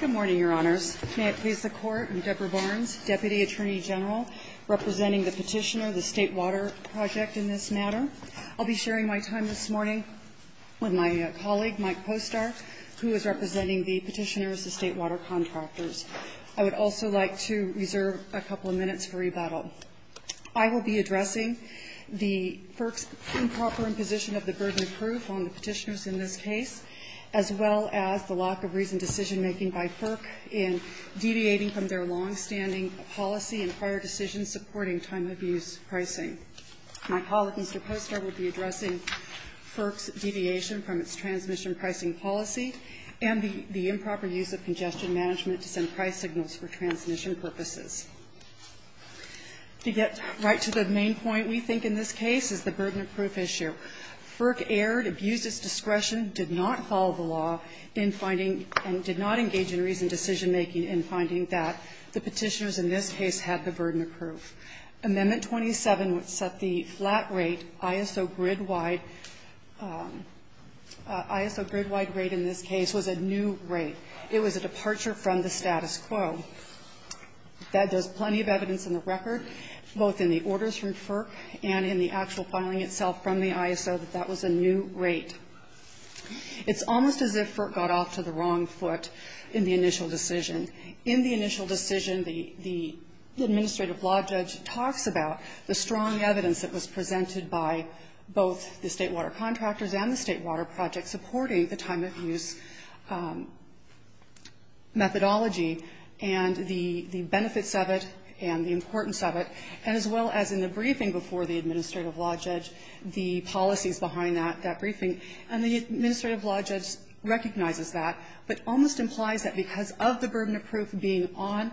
Good morning, Your Honors. May it please the Court, I'm Deborah Barnes, Deputy Attorney General, representing the petitioner, the State Water Project in this matter. I'll be sharing my time this morning with my colleague, Mike Postar, who is representing the petitioners, the State Water contractors. I would also like to reserve a couple of minutes for rebuttal. I will be addressing the FERC's improper imposition of the burden of proof on the petitioners in this case, as well as the lack of reasoned decision-making by FERC in deviating from their long-standing policy and prior decisions supporting time-of-use pricing. My colleague, Mr. Postar, will be addressing FERC's deviation from its transmission pricing policy and the improper use of congestion management to send price signals for transmission purposes. To get right to the main point we think in this case is the burden of proof issue. FERC erred, abused its discretion, did not follow the law in finding and did not engage in reasoned decision-making in finding that the petitioners in this case had the burden of proof. Amendment 27, which set the flat rate, ISO grid-wide ISO grid-wide rate in this case was a new rate. It was a departure from the status quo. That does plenty of evidence in the record, both in the orders from FERC and in the actual filing itself from the ISO, that that was a new rate. It's almost as if FERC got off to the wrong foot in the initial decision. In the initial decision, the the administrative law judge talks about the strong evidence that was presented by both the State Water contractors and the State Water project supporting the time-of-use methodology and the the benefits of it and the importance of it, and as well as in the briefing before the administrative law judge, the policies behind that, that briefing. And the administrative law judge recognizes that, but almost implies that because of the burden of proof being on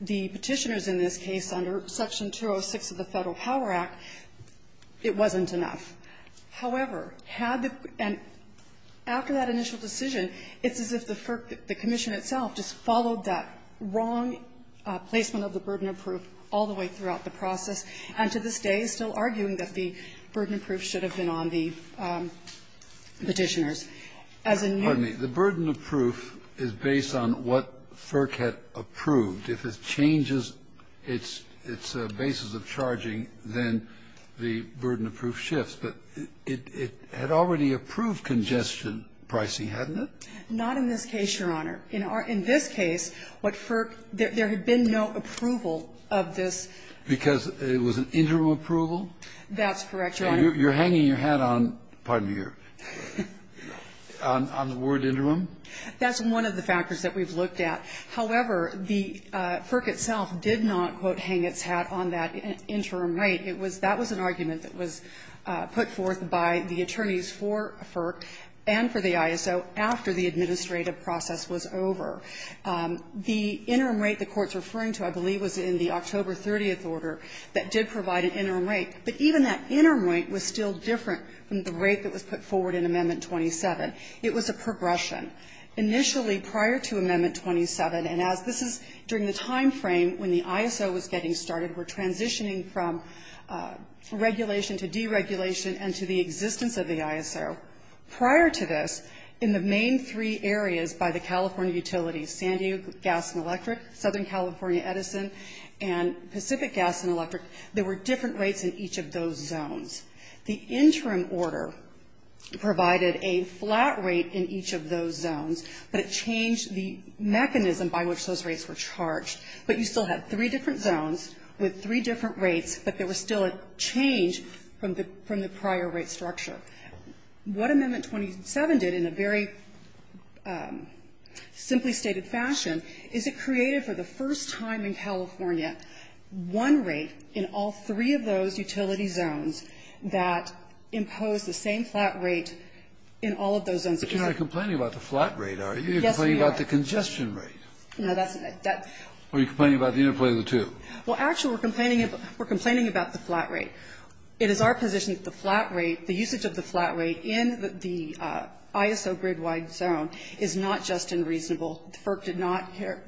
the petitioners in this case under Section 206 of the Federal Power Act, it wasn't enough. However, had the and after that initial decision, it's as if the FERC, the commission itself, just followed that wrong placement of the burden of proof all the way throughout the process, and to this day is still arguing that the burden of proof should have been on the petitioners. As a new ---- Kennedy. The burden of proof is based on what FERC had approved. If it changes its basis of charging, then the burden of proof shifts. But it had already approved congestion pricing, hadn't it? Not in this case, Your Honor. In our ---- in this case, what FERC ---- there had been no approval of this. Because it was an interim approval? That's correct, Your Honor. You're hanging your hat on ---- pardon me here ---- on the word interim? That's one of the factors that we've looked at. However, the FERC itself did not, quote, hang its hat on that interim. Right. It was ---- that was an argument that was put forth by the attorneys for FERC and for the ISO after the administrative process was over. The interim rate the Court's referring to, I believe, was in the October 30th order that did provide an interim rate. But even that interim rate was still different from the rate that was put forward in Amendment 27. It was a progression. Initially, prior to Amendment 27, and as this is during the time frame when the ISO was getting started, we're transitioning Prior to this, in the main three areas by the California Utilities, San Diego Gas and Electric, Southern California Edison, and Pacific Gas and Electric, there were different rates in each of those zones. The interim order provided a flat rate in each of those zones, but it changed the mechanism by which those rates were charged. But you still had three different zones with three different rates, but there was still a change from the prior rate structure. What Amendment 27 did in a very simply stated fashion is it created for the first time in California one rate in all three of those utility zones that imposed the same flat rate in all of those zones. Kennedy. But you're not complaining about the flat rate, are you? Yes, we are. You're complaining about the congestion rate. No, that's not it. Are you complaining about the interplay of the two? Well, actually, we're complaining about the flat rate. It is our position that the flat rate, the usage of the flat rate in the ISO grid-wide zone is not just unreasonable. FERC did not care,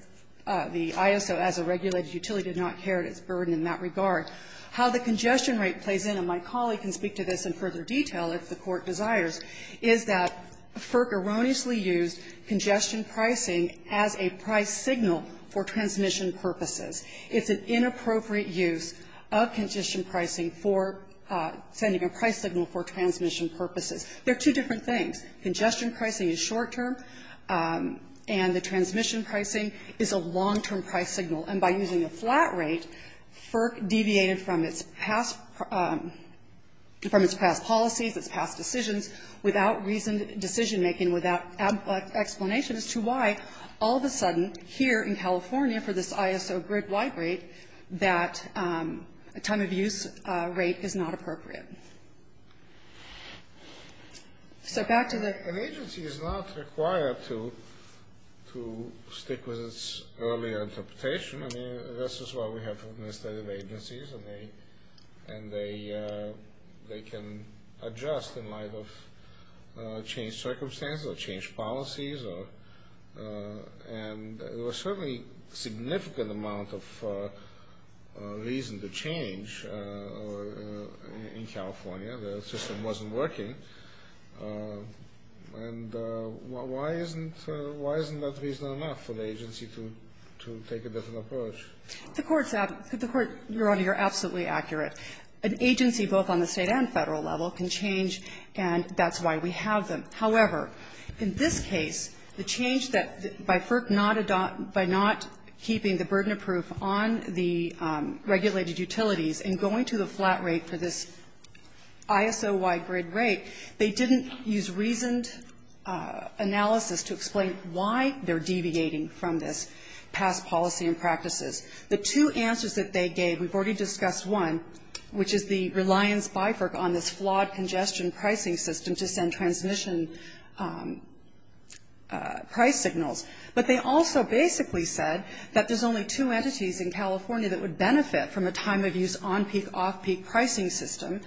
the ISO as a regulated utility did not care of its burden in that regard. How the congestion rate plays in, and my colleague can speak to this in further detail if the Court desires, is that FERC erroneously used congestion pricing as a price signal for transmission purposes. It's an inappropriate use of congestion pricing for sending a price signal for transmission purposes. They're two different things. Congestion pricing is short-term, and the transmission pricing is a long-term price signal. And by using a flat rate, FERC deviated from its past policies, its past decisions without reasoned decision-making, without explanation as to why all of a sudden here in California for this ISO grid-wide rate, that time-of-use rate is not appropriate. So back to the... An agency is not required to stick with its earlier interpretation. I mean, this is what we have from the state of agencies, and they can adjust in light of changed circumstances or changed policies, and there was certainly a significant amount of reason to change in California. The system wasn't working. And why isn't that reason enough for the agency to take a different approach? The Court, Your Honor, you're absolutely accurate. An agency, both on the state and Federal level, can change, and that's why we have them. However, in this case, the change that by FERC not adopting, by not keeping the burden of proof on the regulated utilities and going to the flat rate for this ISO-wide grid rate, they didn't use reasoned analysis to explain why they're deviating from this past policy and practices. The two answers that they gave, we've already discussed one, which is the reliance by FERC on this flawed congestion pricing system to send transmission price signals. But they also basically said that there's only two entities in California that would benefit from a time-of-use on-peak, off-peak pricing system,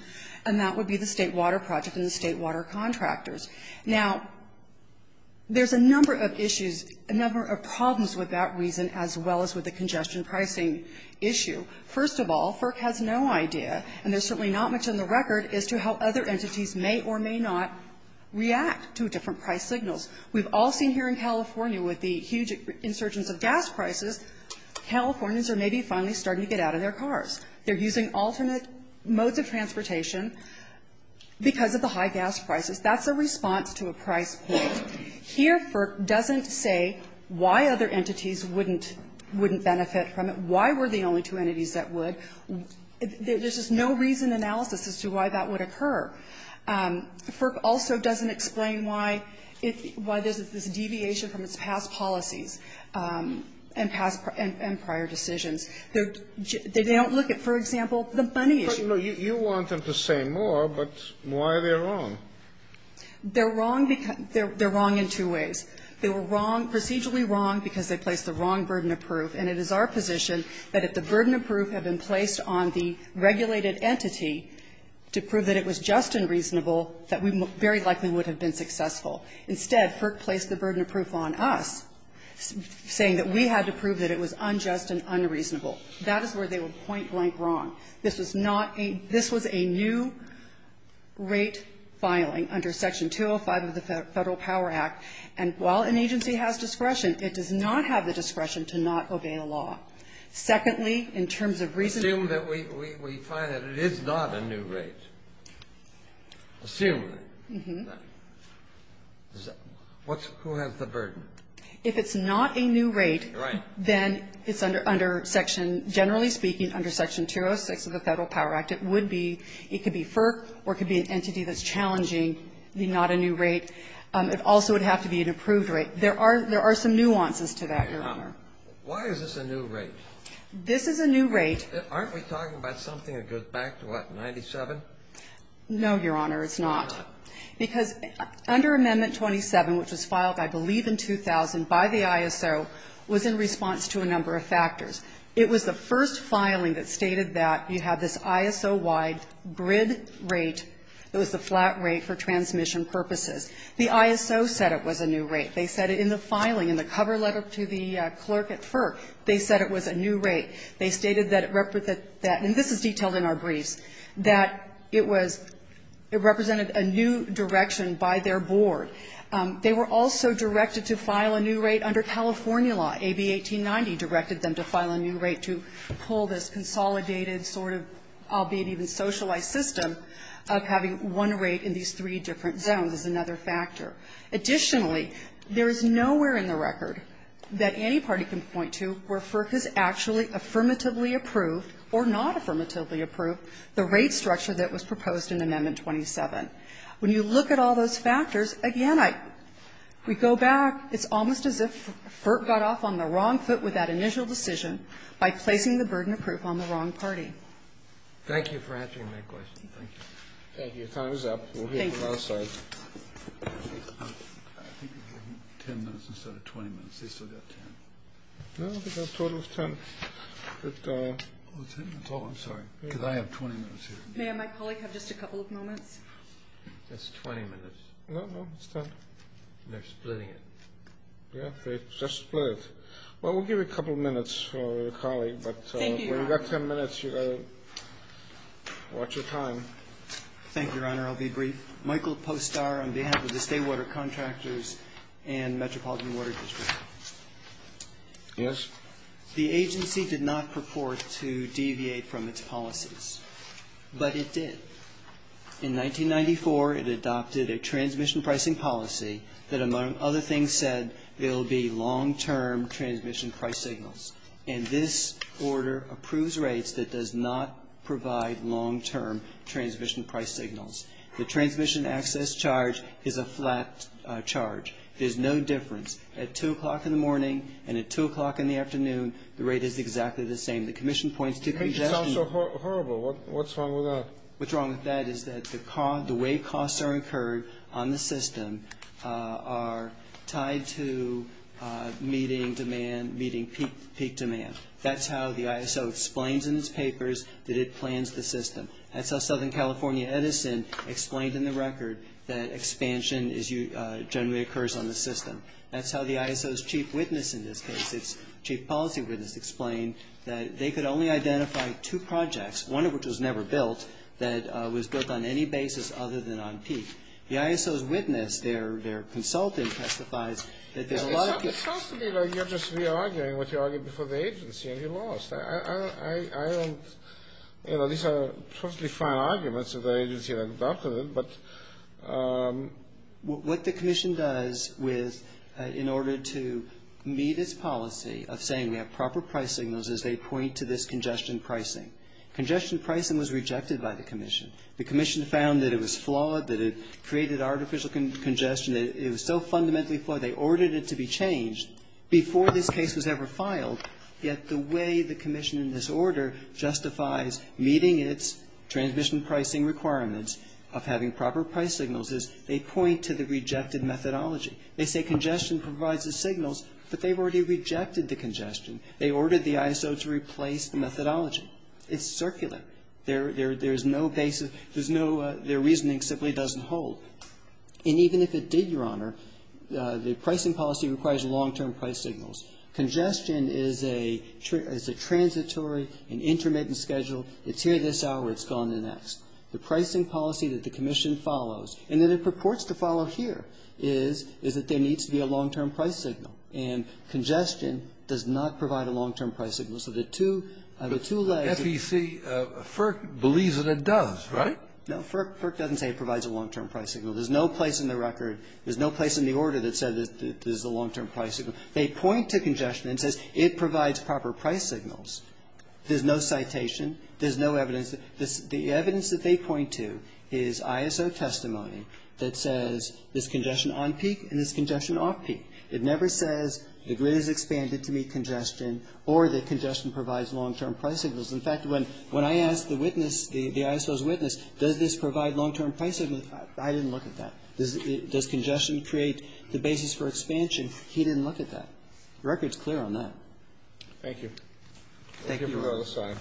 and that would be the State Water Project and the State Water Contractors. Now, there's a number of issues, a number of problems with that reason as well as with the congestion pricing issue. First of all, FERC has no idea, and there's certainly not much in the record, as to how other entities may or may not react to different price signals. We've all seen here in California with the huge insurgence of gas prices, Californians are maybe finally starting to get out of their cars. They're using alternate modes of transportation because of the high gas prices. That's a response to a price point. Here, FERC doesn't say why other entities wouldn't benefit from it, why were the only two entities that would. There's just no reasoned analysis as to why that would occur. FERC also doesn't explain why there's this deviation from its past policies and prior decisions. They don't look at, for example, the money issue. Kennedy, you want them to say more, but why are they wrong? They're wrong because they're wrong in two ways. They were wrong, procedurally wrong, because they placed the wrong burden of proof. And it is our position that if the burden of proof had been placed on the regulated entity to prove that it was just and reasonable, that we very likely would have been successful. Instead, FERC placed the burden of proof on us, saying that we had to prove that it was unjust and unreasonable. That is where they were point blank wrong. This was not a new rate filing under Section 205 of the Federal Power Act. And while an agency has discretion, it does not have the discretion to not obey a law. Secondly, in terms of reasoned assume that we find that it is not a new rate, assume that. Who has the burden? If it's not a new rate, then it's under Section, generally speaking, under Section 206 of the Federal Power Act, it would be, it could be FERC or it could be an entity that's challenging the not a new rate. It also would have to be an approved rate. There are some nuances to that, Your Honor. Why is this a new rate? This is a new rate. Aren't we talking about something that goes back to, what, 97? No, Your Honor, it's not. Why not? Because under Amendment 27, which was filed, I believe, in 2000 by the ISO, was in response to a number of factors. It was the first filing that stated that you have this ISO-wide grid rate that was the flat rate for transmission purposes. The ISO said it was a new rate. They said in the filing, in the cover letter to the clerk at FERC, they said it was a new rate. They stated that it represented that, and this is detailed in our briefs, that it was – it represented a new direction by their board. They were also directed to file a new rate under California law. AB 1890 directed them to file a new rate to pull this consolidated sort of, albeit even socialized system, of having one rate in these three different zones as another factor. Additionally, there is nowhere in the record that any party can point to where FERC has actually affirmatively approved or not affirmatively approved the rate structure that was proposed in Amendment 27. When you look at all those factors, again, I – we go back, it's almost as if FERC got off on the wrong foot with that initial decision by placing the burden of proof on the wrong party. Thank you for answering my question. Thank you. Thank you. Time is up. We'll hear from outside. Thank you. I think we gave them 10 minutes instead of 20 minutes. They still got 10. No, I think our total is 10. But – Oh, it's 10 minutes. Oh, I'm sorry. Because I have 20 minutes here. May I have my colleague have just a couple of moments? That's 20 minutes. No, no, it's 10. They're splitting it. Yeah, they just split it. Well, we'll give you a couple minutes for your colleague, but – Thank you, Your Honor. We've got 10 minutes. You got to watch your time. Thank you, Your Honor. I'll be brief. Michael Postar on behalf of the State Water Contractors and Metropolitan Water District. Yes? The agency did not purport to deviate from its policies, but it did. In 1994, it adopted a transmission pricing policy that among other things said there should be short-term transmission price signals, and this order approves rates that does not provide long-term transmission price signals. The transmission access charge is a flat charge. There's no difference. At 2 o'clock in the morning and at 2 o'clock in the afternoon, the rate is exactly the same. The commission points to congestion. That makes it sound so horrible. What's wrong with that? What's wrong with that is that the way costs are incurred on the system are tied to meeting demand, meeting peak demand. That's how the ISO explains in its papers that it plans the system. That's how Southern California Edison explained in the record that expansion generally occurs on the system. That's how the ISO's chief witness in this case, its chief policy witness, explained that they could only identify two projects, one of which was never built, that was built on any basis other than on peak. The ISO's witness, their consultant, testifies that there are a lot of people It sounds to me like you're just re-arguing what you argued before the agency and you lost. I don't, you know, these are perfectly fine arguments of the agency that adopted it, but what the commission does with, in order to meet its policy of saying we have proper price signals is they point to this congestion pricing. Congestion pricing was rejected by the commission. The commission found that it was flawed, that it created artificial congestion, that it was so fundamentally flawed they ordered it to be changed before this case was ever filed. Yet the way the commission in this order justifies meeting its transmission pricing requirements of having proper price signals is they point to the rejected methodology. They say congestion provides the signals, but they've already rejected the congestion. They ordered the ISO to replace the methodology. It's circular. There's no basis, there's no, their reasoning simply doesn't hold. And even if it did, Your Honor, the pricing policy requires long-term price signals. Congestion is a transitory and intermittent schedule. It's here this hour, it's gone the next. The pricing policy that the commission follows and that it purports to follow here is that there needs to be a long-term price signal. And congestion does not provide a long-term price signal. So the two, the two legs. But FEC, FERC, believes that it does, right? No, FERC doesn't say it provides a long-term price signal. There's no place in the record, there's no place in the order that says this is a long-term price signal. They point to congestion and says it provides proper price signals. There's no citation. There's no evidence. The evidence that they point to is ISO testimony that says this congestion on peak and this congestion off peak. It never says the grid has expanded to meet congestion or that congestion provides long-term price signals. In fact, when I asked the witness, the ISO's witness, does this provide long-term price signals, I didn't look at that. Does congestion create the basis for expansion? He didn't look at that. The record's clear on that. Thank you. Thank you. Thank you, Your Honor.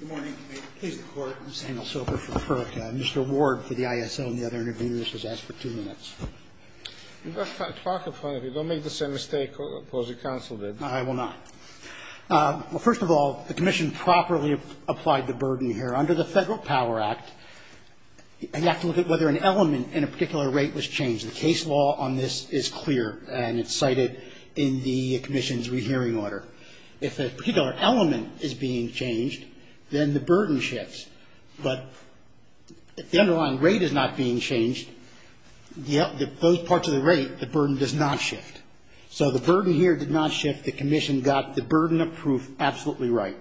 Good morning. Please, the Court. I'm Samuel Sober from FERC. Mr. Ward for the ISO and the other interviewees was asked for two minutes. You better talk in front of me. Don't make the same mistake the opposing counsel did. I will not. Well, first of all, the commission properly applied the burden here. Under the Federal Power Act, you have to look at whether an element in a particular rate was changed. The case law on this is clear, and it's cited in the commission's rehearing order. If a particular element is being changed, then the burden shifts. But if the underlying rate is not being changed, those parts of the rate, the burden does not shift. So the burden here did not shift. The commission got the burden approved absolutely right.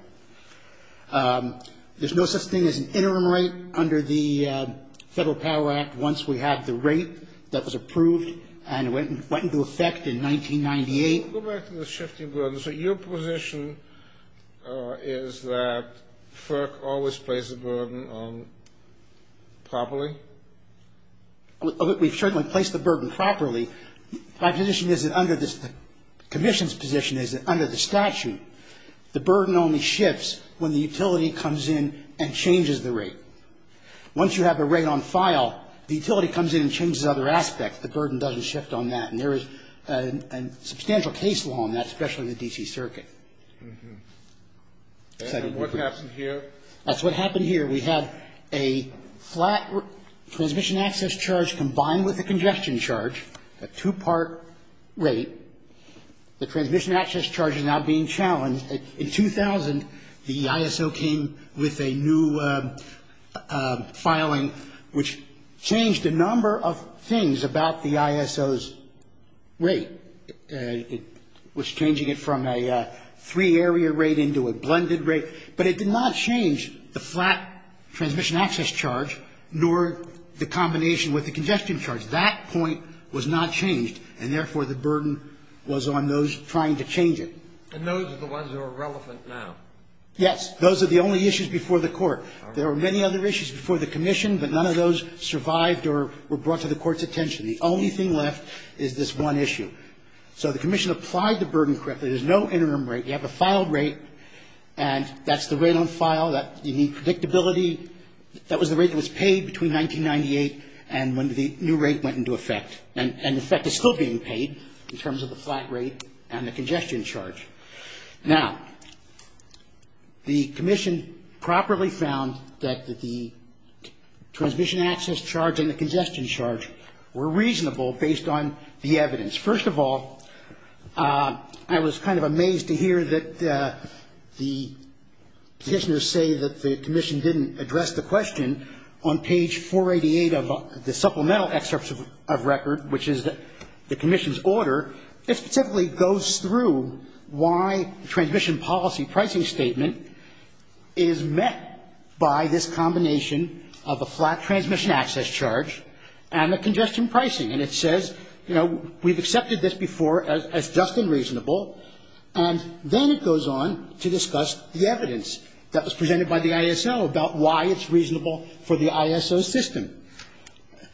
There's no such thing as an interim rate under the Federal Power Act once we have the rate that was approved and went into effect in 1998. Go back to the shifting burden. So your position is that FERC always placed the burden on properly? We've certainly placed the burden properly. My position is that under the commission's position is that under the statute, the burden only shifts when the utility comes in and changes the rate. Once you have a rate on file, the utility comes in and changes other aspects. The burden doesn't shift on that. And there is a substantial case law on that, especially in the D.C. Circuit. And what happened here? That's what happened here. We had a flat transmission access charge combined with a congestion charge, a two-part rate. The transmission access charge is now being challenged. In 2000, the ISO came with a new filing which changed a number of things about the ISO's rate. It was changing it from a three-area rate into a blended rate. But it did not change the flat transmission access charge nor the combination with the congestion charge. That point was not changed, and therefore, the burden was on those trying to change it. And those are the ones that are relevant now? Yes. Those are the only issues before the Court. There were many other issues before the commission, but none of those survived or were brought to the Court's attention. The only thing left is this one issue. So the commission applied the burden correctly. There's no interim rate. You have a filed rate, and that's the rate on file. You need predictability. That was the rate that was paid between 1998 and when the new rate went into effect. And in fact, it's still being paid in terms of the flat rate and the congestion charge. Now, the commission properly found that the transmission access charge and the congestion charge were reasonable based on the evidence. First of all, I was kind of amazed to hear that the petitioners say that the commission didn't address the question on page 488 of the supplemental excerpt of record, which is the commission's order. It specifically goes through why the transmission policy pricing statement is met by this combination of a flat transmission access charge and a congestion pricing. And it says, you know, we've accepted this before as just and reasonable. And then it goes on to discuss the evidence that was presented by the ISO about why it's reasonable for the ISO system.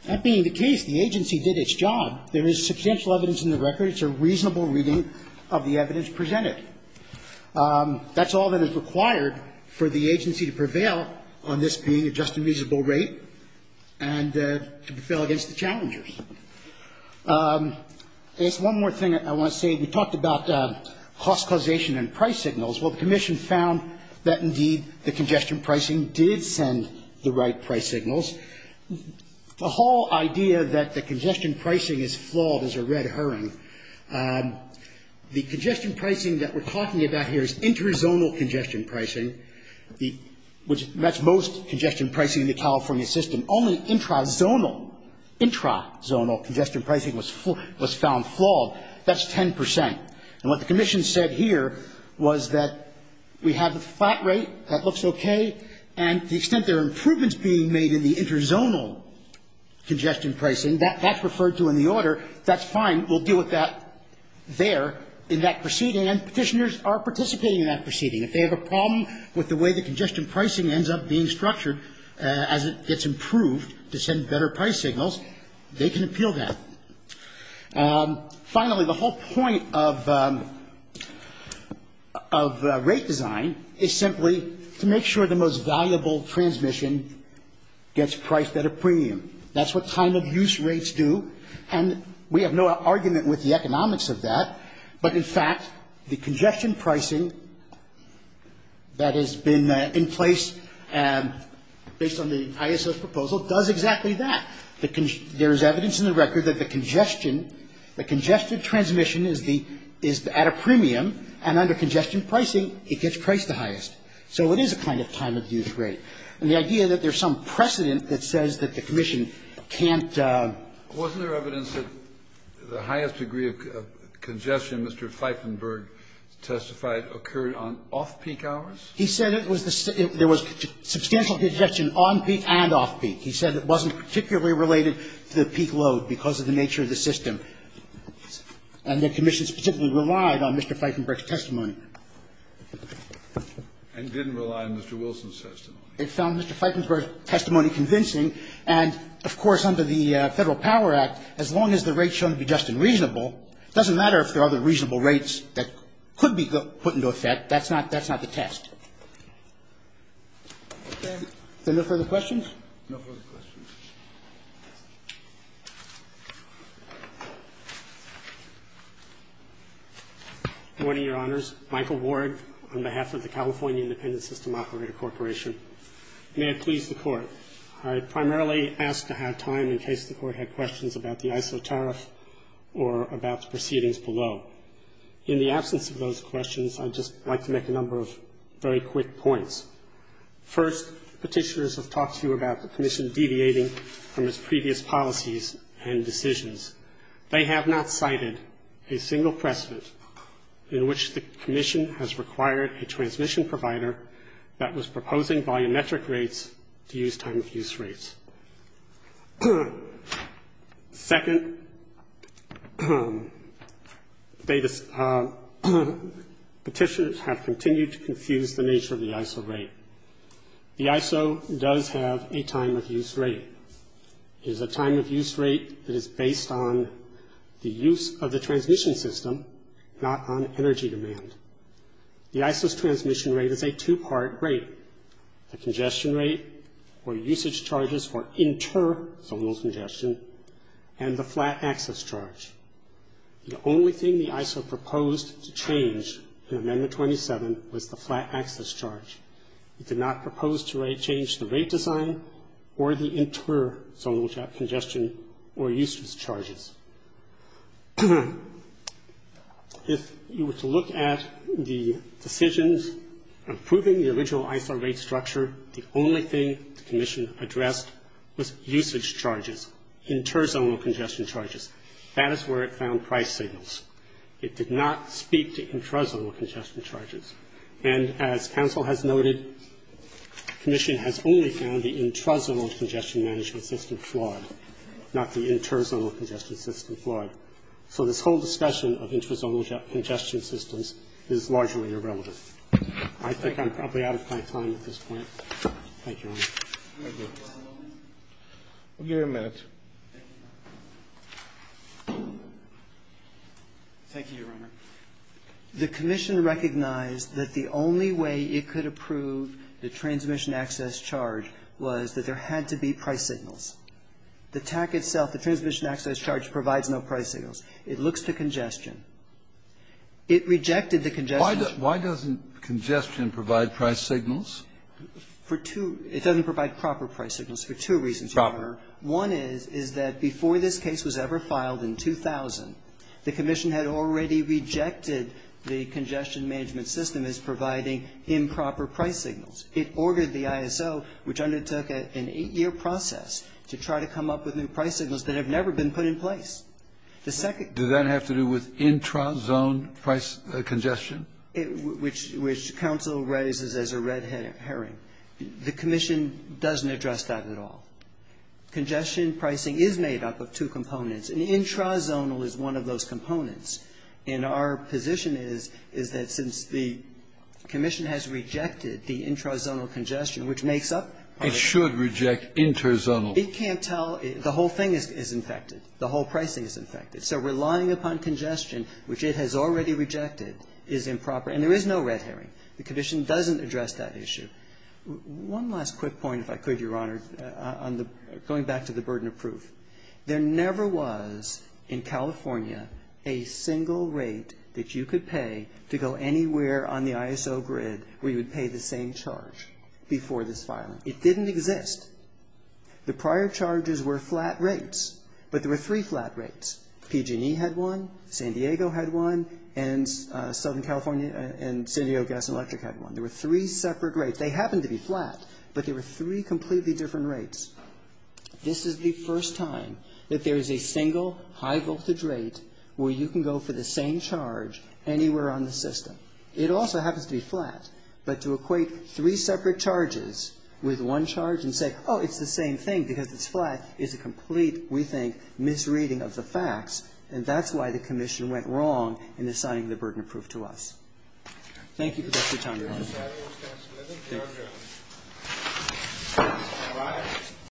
That being the case, the agency did its job. There is substantial evidence in the record. It's a reasonable reading of the evidence presented. That's all that is required for the agency to prevail on this being a just and reasonable rate and to prevail against the challengers. I guess one more thing I want to say. We talked about cost causation and price signals. Well, the commission found that, indeed, the congestion pricing did send the right price signals. The whole idea that the congestion pricing is flawed is a red herring. The congestion pricing that we're talking about here is interzonal congestion pricing. That's most congestion pricing in the California system. Only intrazonal, intrazonal congestion pricing was found flawed. That's 10 percent. And what the commission said here was that we have a flat rate. That looks okay. And the extent there are improvements being made in the interzonal congestion pricing, that's referred to in the order. That's fine. We'll deal with that there in that proceeding. And Petitioners are participating in that proceeding. If they have a problem with the way the congestion pricing ends up being structured as it gets improved to send better price signals, they can appeal that. Finally, the whole point of rate design is simply to make sure the most valuable transmission gets priced at a premium. That's what time of use rates do. And we have no argument with the economics of that. But, in fact, the congestion pricing that has been in place based on the ISS proposal does exactly that. There is evidence in the record that the congestion, the congested transmission is at a premium. And under congestion pricing, it gets priced the highest. So it is a kind of time of use rate. And the idea that there's some precedent that says that the commission can't And it was a significant time of use rate. And there was evidence that the highest degree of congestion, Mr. Fiefenberg testified, occurred on off-peak hours. He said it was the same. There was substantial congestion on-peak and off-peak. He said it wasn't particularly related to the peak load because of the nature of the system. And the commission specifically relied on Mr. Fiefenberg's testimony. And didn't rely on Mr. Wilson's testimony. It found Mr. Fiefenberg's testimony convincing. And, of course, under the Federal Power Act, as long as the rates shown to be just and reasonable, it doesn't matter if there are other reasonable rates that could be put into effect. That's not the test. Is there no further questions? No further questions. Good morning, Your Honors. Michael Ward on behalf of the California Independent System Operator Corporation. May it please the Court. I primarily ask to have time in case the Court had questions about the ISO tariff or about the proceedings below. In the absence of those questions, I'd just like to make a number of very quick points. First, petitioners have talked to you about the commission deviating from its previous policies and decisions. They have not cited a single precedent in which the commission has required a transmission provider that was proposing volumetric rates to use time-of-use rates. Second, petitioners have continued to confuse the nature of the ISO rate. The ISO does have a time-of-use rate. It is a time-of-use rate that is based on the use of the transmission system, not on energy demand. The ISO's transmission rate is a two-part rate. The congestion rate, or usage charges for interzonal congestion, and the flat access charge. The only thing the ISO proposed to change in Amendment 27 was the flat access charge. It did not propose to change the rate design or the interzonal congestion or usage charges. If you were to look at the decisions approving the original ISO rate structure, the only thing the commission addressed was usage charges, interzonal congestion charges. That is where it found price signals. It did not speak to interzonal congestion charges. And as counsel has noted, the commission has only found the interzonal congestion management system flawed, not the interzonal congestion system flawed. So this whole discussion of interzonal congestion systems is largely irrelevant. I think I'm probably out of my time at this point. Thank you, Your Honor. Roberts. Thank you. We'll give you a minute. Thank you, Your Honor. The commission recognized that the only way it could approve the transmission access charge was that there had to be price signals. The TAC itself, the transmission access charge, provides no price signals. It looks to congestion. It rejected the congestion charge. Why doesn't congestion provide price signals? For two. It doesn't provide proper price signals for two reasons, Your Honor. Proper. One is, is that before this case was ever filed in 2000, the commission had already rejected the congestion management system as providing improper price signals. It ordered the ISO, which undertook an eight-year process, to try to come up with new price signals that have never been put in place. The second. Does that have to do with intrazone price congestion? Which counsel raises as a red herring. The commission doesn't address that at all. Congestion pricing is made up of two components. An intrazonal is one of those components. And our position is, is that since the commission has rejected the intrazonal congestion, which makes up part of it. It should reject intrazonal. It can't tell. The whole thing is infected. The whole pricing is infected. So relying upon congestion, which it has already rejected, is improper. And there is no red herring. The commission doesn't address that issue. One last quick point, if I could, Your Honor, on the going back to the burden of proof. There never was, in California, a single rate that you could pay to go anywhere on the ISO grid where you would pay the same charge before this filing. It didn't exist. The prior charges were flat rates. But there were three flat rates. PG&E had one. San Diego had one. And Southern California and San Diego Gas and Electric had one. There were three separate rates. They happened to be flat. But there were three completely different rates. This is the first time that there is a single high voltage rate where you can go for the same charge anywhere on the system. It also happens to be flat. But to equate three separate charges with one charge and say, oh, it's the same thing because it's flat, is a complete, we think, misreading of the facts. And that's why the commission went wrong in assigning the burden of proof to us. Thank you for your time, Your Honor. Thank you, sir. Thank you.